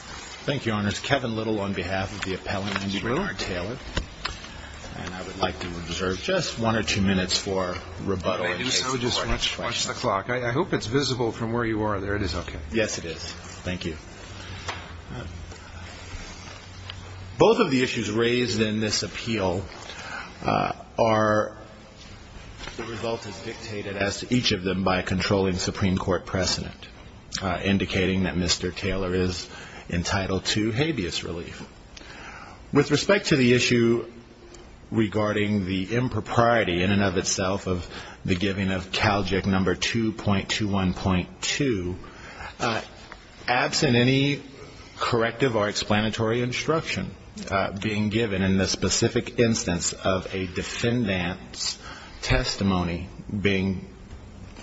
Thank you, Your Honors. Kevin Little on behalf of the appellant, Andy Bernard-Taylor. And I would like to reserve just one or two minutes for rebuttal. If I may do so, I would just watch the clock. I hope it's visible from where you are. There it is. Okay. Yes, it is. Thank you. Both of the issues raised in this appeal are... by controlling Supreme Court precedent, indicating that Mr. Taylor is entitled to habeas relief. With respect to the issue regarding the impropriety in and of itself of the giving of Calgic No. 2.21.2, absent any corrective or explanatory instruction being given in the specific instance of a defendant's testimony being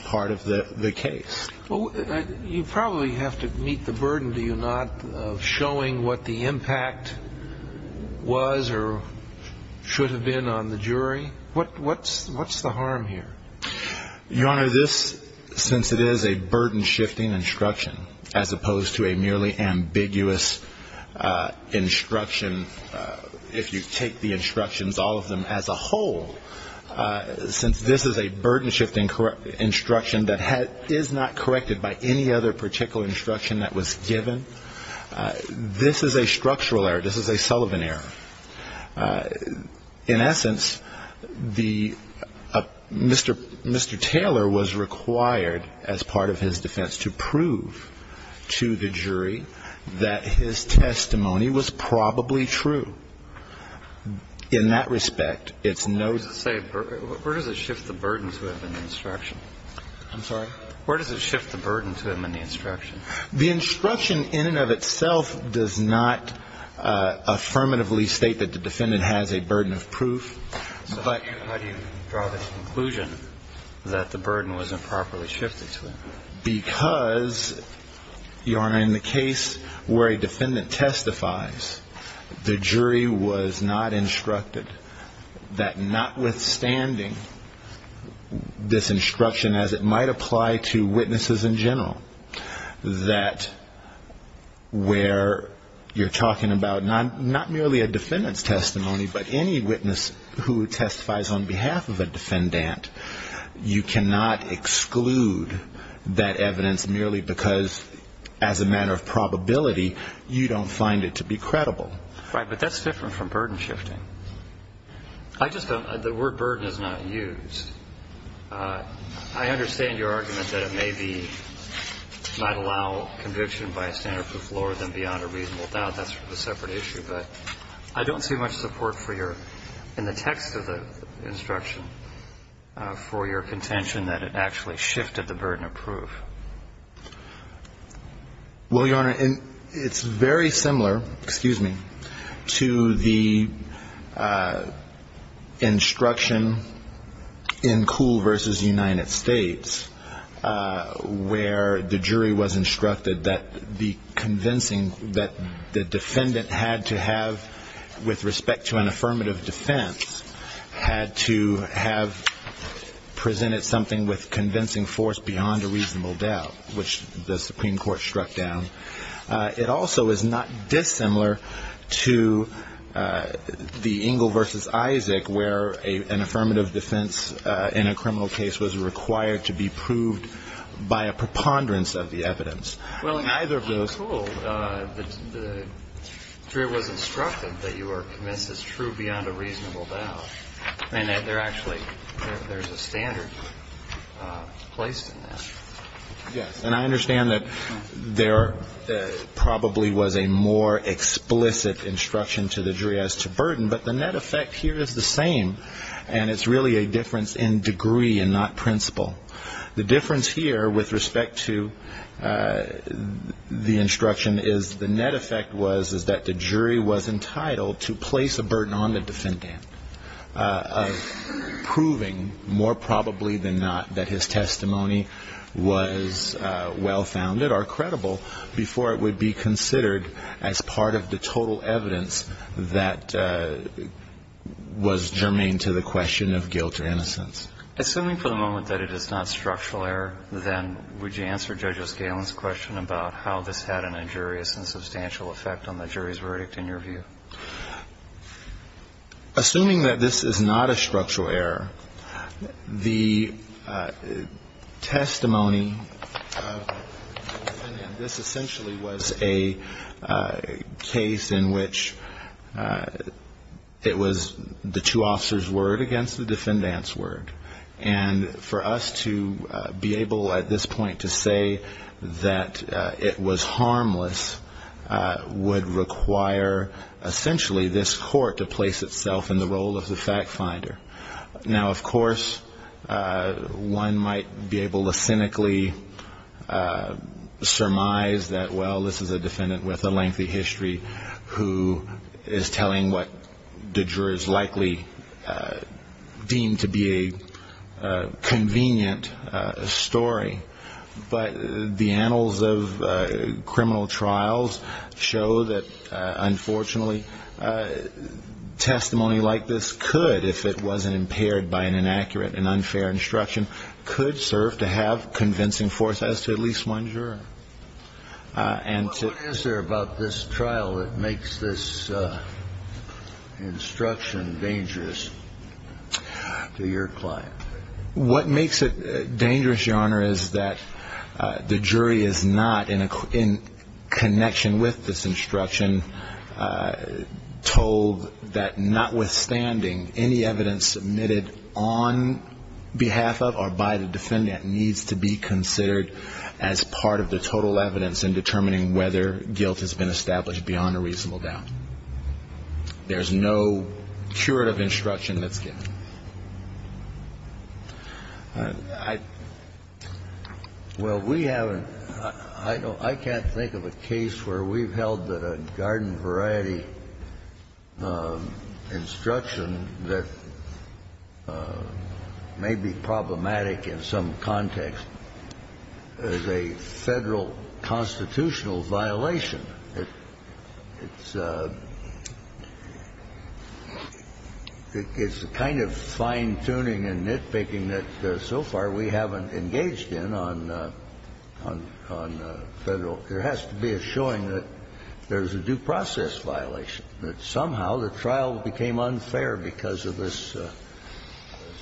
part of the case. You probably have to meet the burden, do you not, of showing what the impact was or should have been on the jury? What's the harm here? Your Honor, this, since it is a burden-shifting instruction, as opposed to a merely ambiguous instruction, if you take the instructions, all of them as a whole, since this is a burden-shifting instruction that is not corrected by any other particular instruction that was given, this is a structural error. This is a Sullivan error. In essence, Mr. Taylor was required as part of his defense to prove to the jury that his testimony was probably true. In that respect, it's no... Where does it shift the burden to him in the instruction? I'm sorry? Where does it shift the burden to him in the instruction? The instruction in and of itself does not affirmatively state that the defendant has a burden of proof, but... The jury was not instructed that notwithstanding this instruction, as it might apply to witnesses in general, that where you're talking about not merely a defendant's testimony, but any witness who testifies on behalf of a defendant, you cannot exclude that evidence merely because as a matter of probability, you don't find it to be credible. But that's different from burden-shifting. I just don't – the word burden is not used. I understand your argument that it may be – might allow conviction by a standard proof lower than beyond a reasonable doubt. That's a separate issue. But I don't see much support for your – in the text of the instruction for your contention that it actually shifted the burden of proof. Well, Your Honor, it's very similar – excuse me – to the instruction in Kuhl v. United States, where the jury was instructed that the convincing – that the defendant had to have, with respect to an affirmative defense, had to have presented something with convincing force beyond a reasonable doubt, which the Supreme Court struck down. It also is not dissimilar to the Engle v. Isaac, where an affirmative defense in a criminal case was required to be proved by a preponderance of the evidence. Well, in Kuhl, the jury was instructed that you are convinced it's true beyond a reasonable doubt. And there actually – there's a standard placed in that. Yes. And I understand that there probably was a more explicit instruction to the jury as to burden, but the net effect here is the same. And it's really a difference in degree and not principle. The difference here with respect to the instruction is the net effect was that the jury was entitled to place a burden on the defendant. And it was a burden of proving, more probably than not, that his testimony was well-founded or credible before it would be considered as part of the total evidence that was germane to the question of guilt or innocence. Assuming for the moment that it is not structural error, then would you answer Judge O'Scalin's question about how this had an injurious and substantial effect on the jury's verdict in your view? Assuming that this is not a structural error, the testimony of the defendant, this essentially was a case in which it was the two officers' word against the defendant's word. And for us to be able at this point to say that it was harmless would require a reasonable amount of evidence. Essentially, this court to place itself in the role of the fact finder. Now, of course, one might be able to cynically surmise that, well, this is a defendant with a lengthy history who is telling what the jurors likely deem to be a convenient story. But the annals of criminal trials show that, unfortunately, this is not the case. And testimony like this could, if it wasn't impaired by an inaccurate and unfair instruction, could serve to have convincing force as to at least one juror. What is there about this trial that makes this instruction dangerous to your client? What makes it dangerous, Your Honor, is that the jury is not in connection with this instruction. The jury is not in connection with this instruction. And I'm told that notwithstanding, any evidence submitted on behalf of or by the defendant needs to be considered as part of the total evidence in determining whether guilt has been established beyond a reasonable doubt. There's no curative instruction that's given. Well, we haven't. I can't think of a case where we've held that a garden variety instruction that may be problematic in some context is a Federal constitutional violation. It's a kind of fine-tuning and nitpicking that, so far, we haven't engaged in on Federal. There has to be a showing that there's a due process violation, that somehow the trial became unfair because of this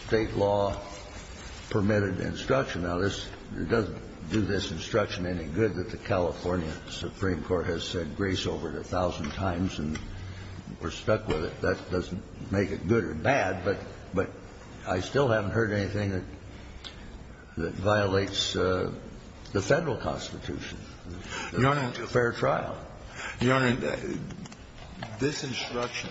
State law-permitted instruction. Now, this doesn't do this instruction any good that the California Supreme Court has said grace over it a thousand times and we're stuck with it. That doesn't make it good or bad, but I still haven't heard anything that violates the Federal constitution. It's a fair trial. Your Honor, this instruction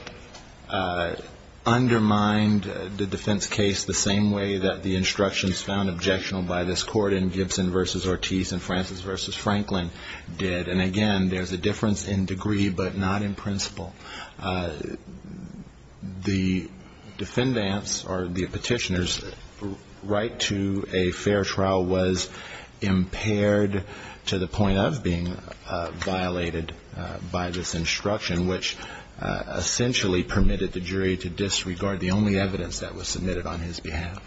undermined the defense case the same way that the instructions found objectionable by this Court in Gibson v. Ortiz and Francis v. Franklin did. And, again, there's a difference in degree but not in principle. The defendant's or the petitioner's right to a fair trial was impaired to the point of being violated by this instruction, which essentially permitted the jury to disregard the only evidence that was submitted on his behalf.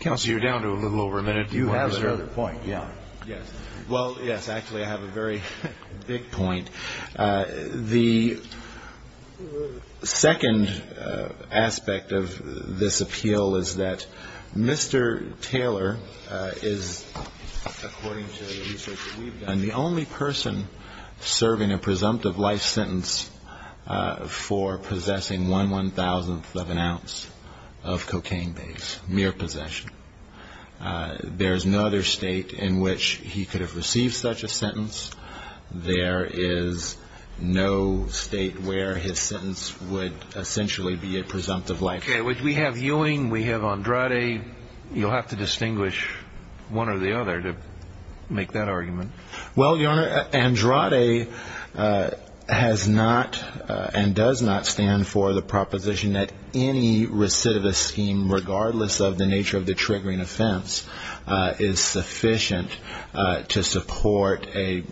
Counsel, you're down to a little over a minute. You have another point. Yes. Well, yes. Actually, I have a very big point. The second aspect of this appeal is that Mr. Taylor is, according to the research that we've done, the only person serving a presumptive life sentence for possessing one one-thousandth of an ounce of cocaine. Mere possession. There's no other state in which he could have received such a sentence. There is no state where his sentence would essentially be a presumptive life sentence. Okay. We have Ewing. We have Andrade. You'll have to distinguish one or the other to make that argument. Well, Your Honor, Andrade has not and does not stand for the proposition that any recidivist scheme, regardless of the nature of the triggering offense, is sufficient to support a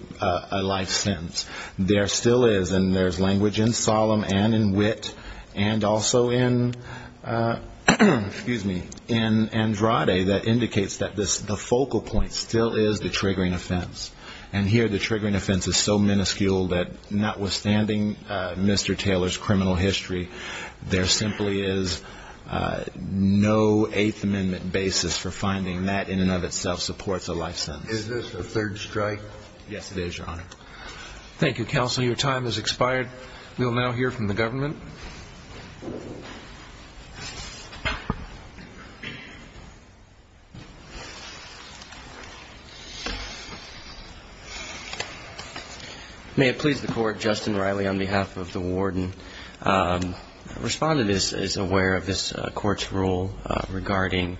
life sentence. There still is, and there's language in Solemn and in Wit and also in Andrade that indicates that the focal point still is the triggering offense. And here the triggering offense is so minuscule that, notwithstanding Mr. Taylor's criminal history, there simply is no Eighth Amendment basis for finding that in and of itself supports a life sentence. Is this a third strike? Yes, it is, Your Honor. Thank you, counsel. Your time has expired. We will now hear from the government. May it please the Court, Justin Riley, on behalf of the warden. Respondent is aware of this Court's rule regarding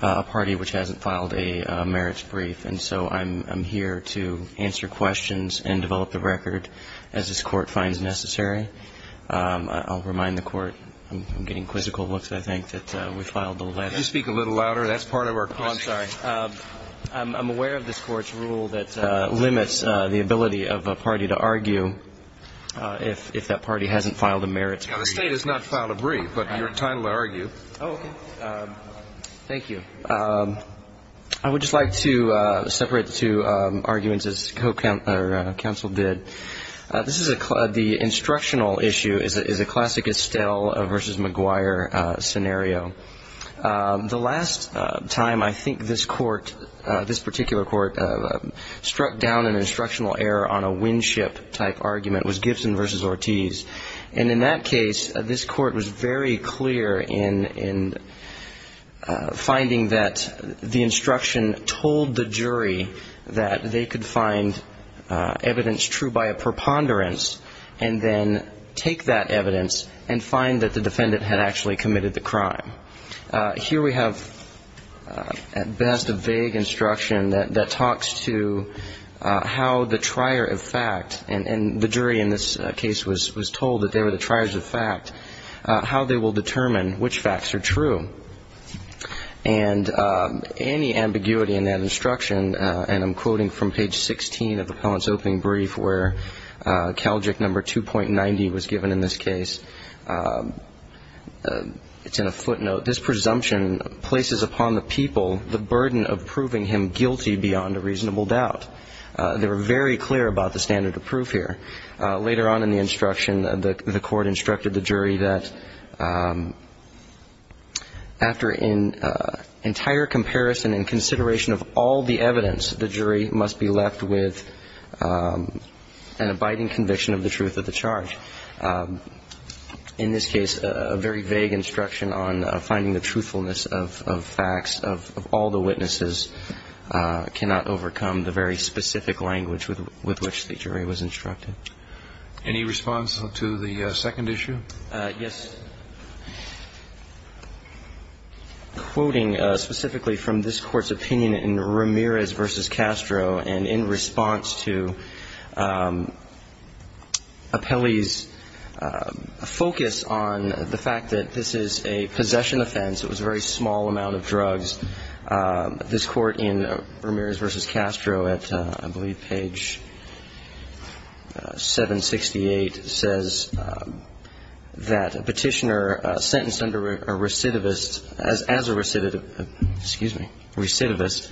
a party which hasn't filed a merits brief, and so I'm here to answer questions and develop the record as this Court finds necessary. I'll remind the Court. I'm getting quizzical looks, I think, that we filed the letter. Can you speak a little louder? That's part of our question. I'm sorry. I'm aware of this Court's rule that limits the ability of a party to argue if that party hasn't filed a merits brief. The State has not filed a brief, but you're entitled to argue. Oh, okay. Thank you. I would just like to separate the two arguments, as counsel did. The instructional issue is a classic Estelle v. McGuire scenario. The last time I think this Court, this particular Court, struck down an instructional error on a windship-type argument was Gibson v. Ortiz. And in that case, this Court was very clear in finding that the instruction told the jury that they could find evidence true by a preponderance and then take that evidence and find that the defendant had actually committed the crime. Here we have, at best, a vague instruction that talks to how the trier of fact, and the jury in this case was told that they were the triers of fact, how they will determine which facts are true. And any ambiguity in that instruction, and I'm quoting from page 16 of the appellant's opening brief, where Calgic number 2.90 was given in this case, it's in a footnote, this presumption places upon the people the burden of proving him guilty beyond a reasonable doubt. They were very clear about the standard of proof here. Later on in the instruction, the Court instructed the jury that after an entire comparison and consideration of all the evidence, the jury must be left with an abiding conviction of the truth of the charge. In this case, a very vague instruction on finding the truthfulness of facts of all the witnesses cannot overcome the very specific language with which the jury was instructed. Any response to the second issue? Yes. Quoting specifically from this Court's opinion in Ramirez v. Castro, and in response to Appelli's focus on the fact that this is a possession offense, it was a very small amount of drugs, this Court in Ramirez v. Castro at I believe page 768 says that a petitioner sentenced under a recidivist, as a recidivist,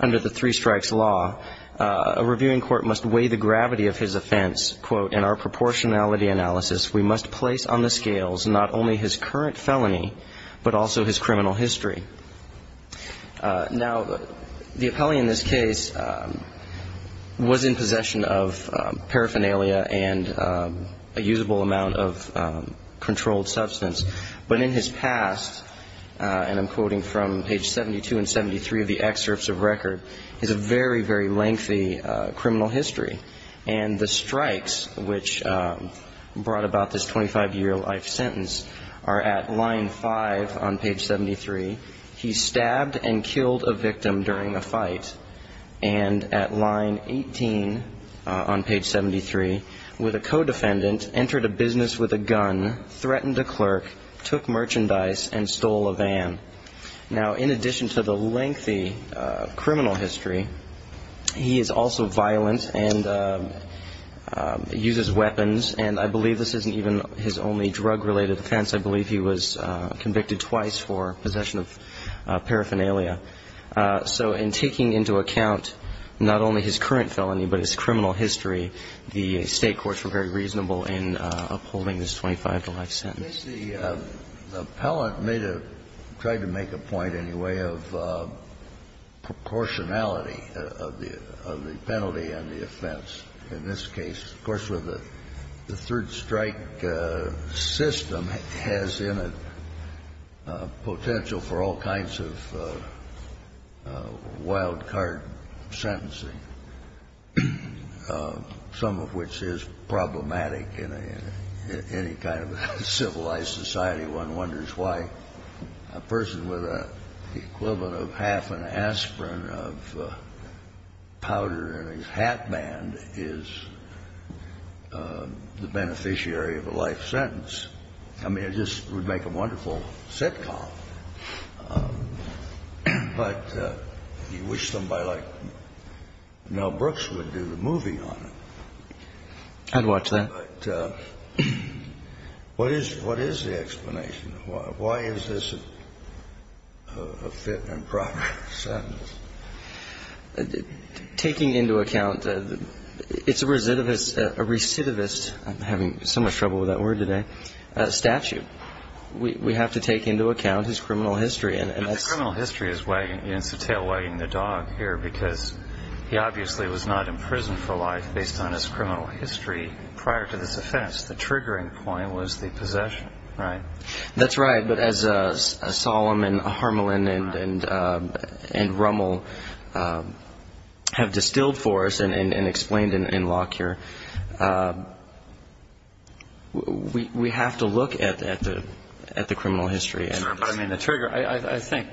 under the three strikes law, a reviewing court must weigh the gravity of his offense. Quote, in our proportionality analysis, we must place on the scales not only his current felony, but also his criminal history. Now, the Appelli in this case was in possession of paraphernalia and a usable amount of controlled substance. But in his past, and I'm quoting from page 72 and 73 of the excerpts of record, he has a very, very lengthy criminal history. And the strikes, which brought about this 25-year life sentence, are at line 5 on page 73. He stabbed and killed a victim during a fight. And at line 18 on page 73, with a co-defendant, entered a business with a gun, threatened a clerk, Now, in addition to the lengthy criminal history, he is also violent and uses weapons. And I believe this isn't even his only drug-related offense. I believe he was convicted twice for possession of paraphernalia. So in taking into account not only his current felony, but his criminal history, the State courts were very reasonable in upholding this 25-to-life sentence. Kennedy, I guess the appellant made a – tried to make a point, in a way, of proportionality of the penalty and the offense in this case. Of course, with the Third Strike system, it has in it potential for all kinds of wild-card sentencing, some of which is problematic in any kind of civilized society. One wonders why a person with an equivalent of half an aspirin of powder in his hat band is the beneficiary of a life sentence. I mean, it just would make a wonderful sitcom. But you wish somebody like Mel Brooks would do the movie on it. I'd watch that. But what is the explanation? Why is this a fit and proper sentence? Taking into account, it's a recidivist – I'm having so much trouble with that word today statute. We have to take into account his criminal history. But the criminal history is wagging – it's a tail wagging the dog here, because he obviously was not in prison for life based on his criminal history prior to this offense. The triggering point was the possession, right? That's right. But as Solemn and Harmelin and Rummel have distilled for us and explained in Locke here, we have to look at the criminal history. I think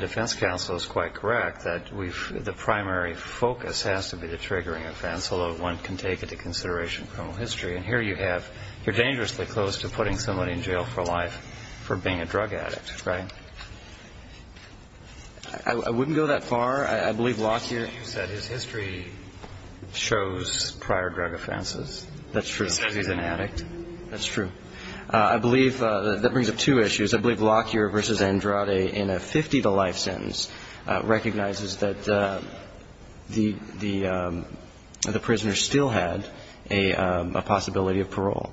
defense counsel is quite correct that the primary focus has to be the triggering offense, although one can take into consideration criminal history. And here you have – you're dangerously close to putting somebody in jail for life for being a drug addict, right? I wouldn't go that far. I believe Locke here – You said his history shows prior drug offenses. That's true. He says he's an addict. That's true. I believe that brings up two issues. The first is I believe Locke here versus Andrade in a 50-to-life sentence recognizes that the prisoner still had a possibility of parole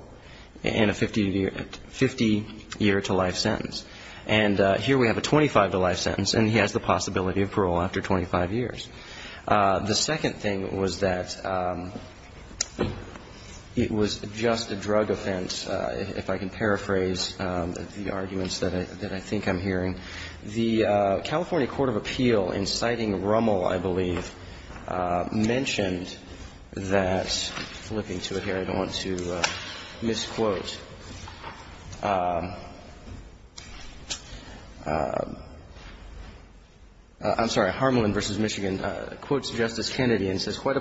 in a 50-year-to-life sentence. And here we have a 25-to-life sentence, and he has the possibility of parole after 25 years. The second thing was that it was just a drug offense, if I can paraphrase the arguments that I think I'm hearing. The California Court of Appeal, in citing Rummel, I believe, mentioned that – flipping to it here, I don't want to misquote. I'm sorry. Harmelin v. Michigan quotes Justice Kennedy and says, And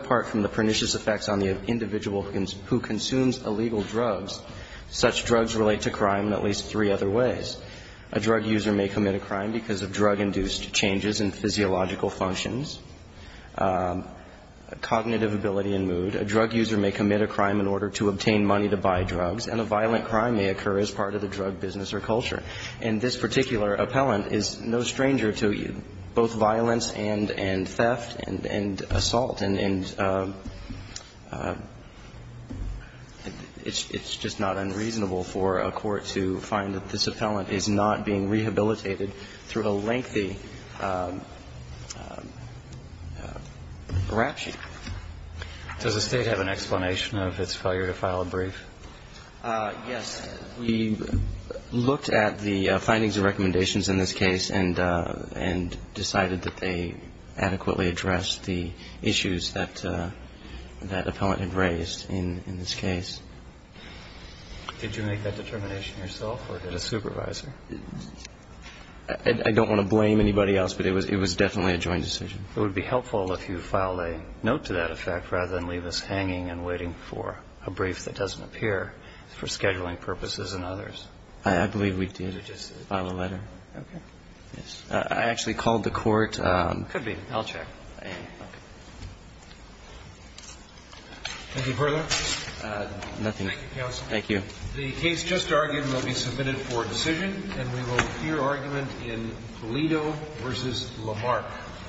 this particular appellant is no stranger to both violence and theft and assault And it's just not unreasonable for a court to find that this appellant is not being rehabilitated through a lengthy rap sheet. Does the State have an explanation of its failure to file a brief? Yes. We looked at the findings and recommendations in this case and decided that they adequately addressed the issues that that appellant had raised in this case. Did you make that determination yourself or did a supervisor? I don't want to blame anybody else, but it was definitely a joint decision. It would be helpful if you filed a note to that effect rather than leave us hanging and waiting for a brief that doesn't appear for scheduling purposes and others. I believe we did file a letter. Okay. I actually called the court. Could be. I'll check. Thank you. The case just argued will be submitted for decision. And we will hear argument in Toledo v. Lamarck.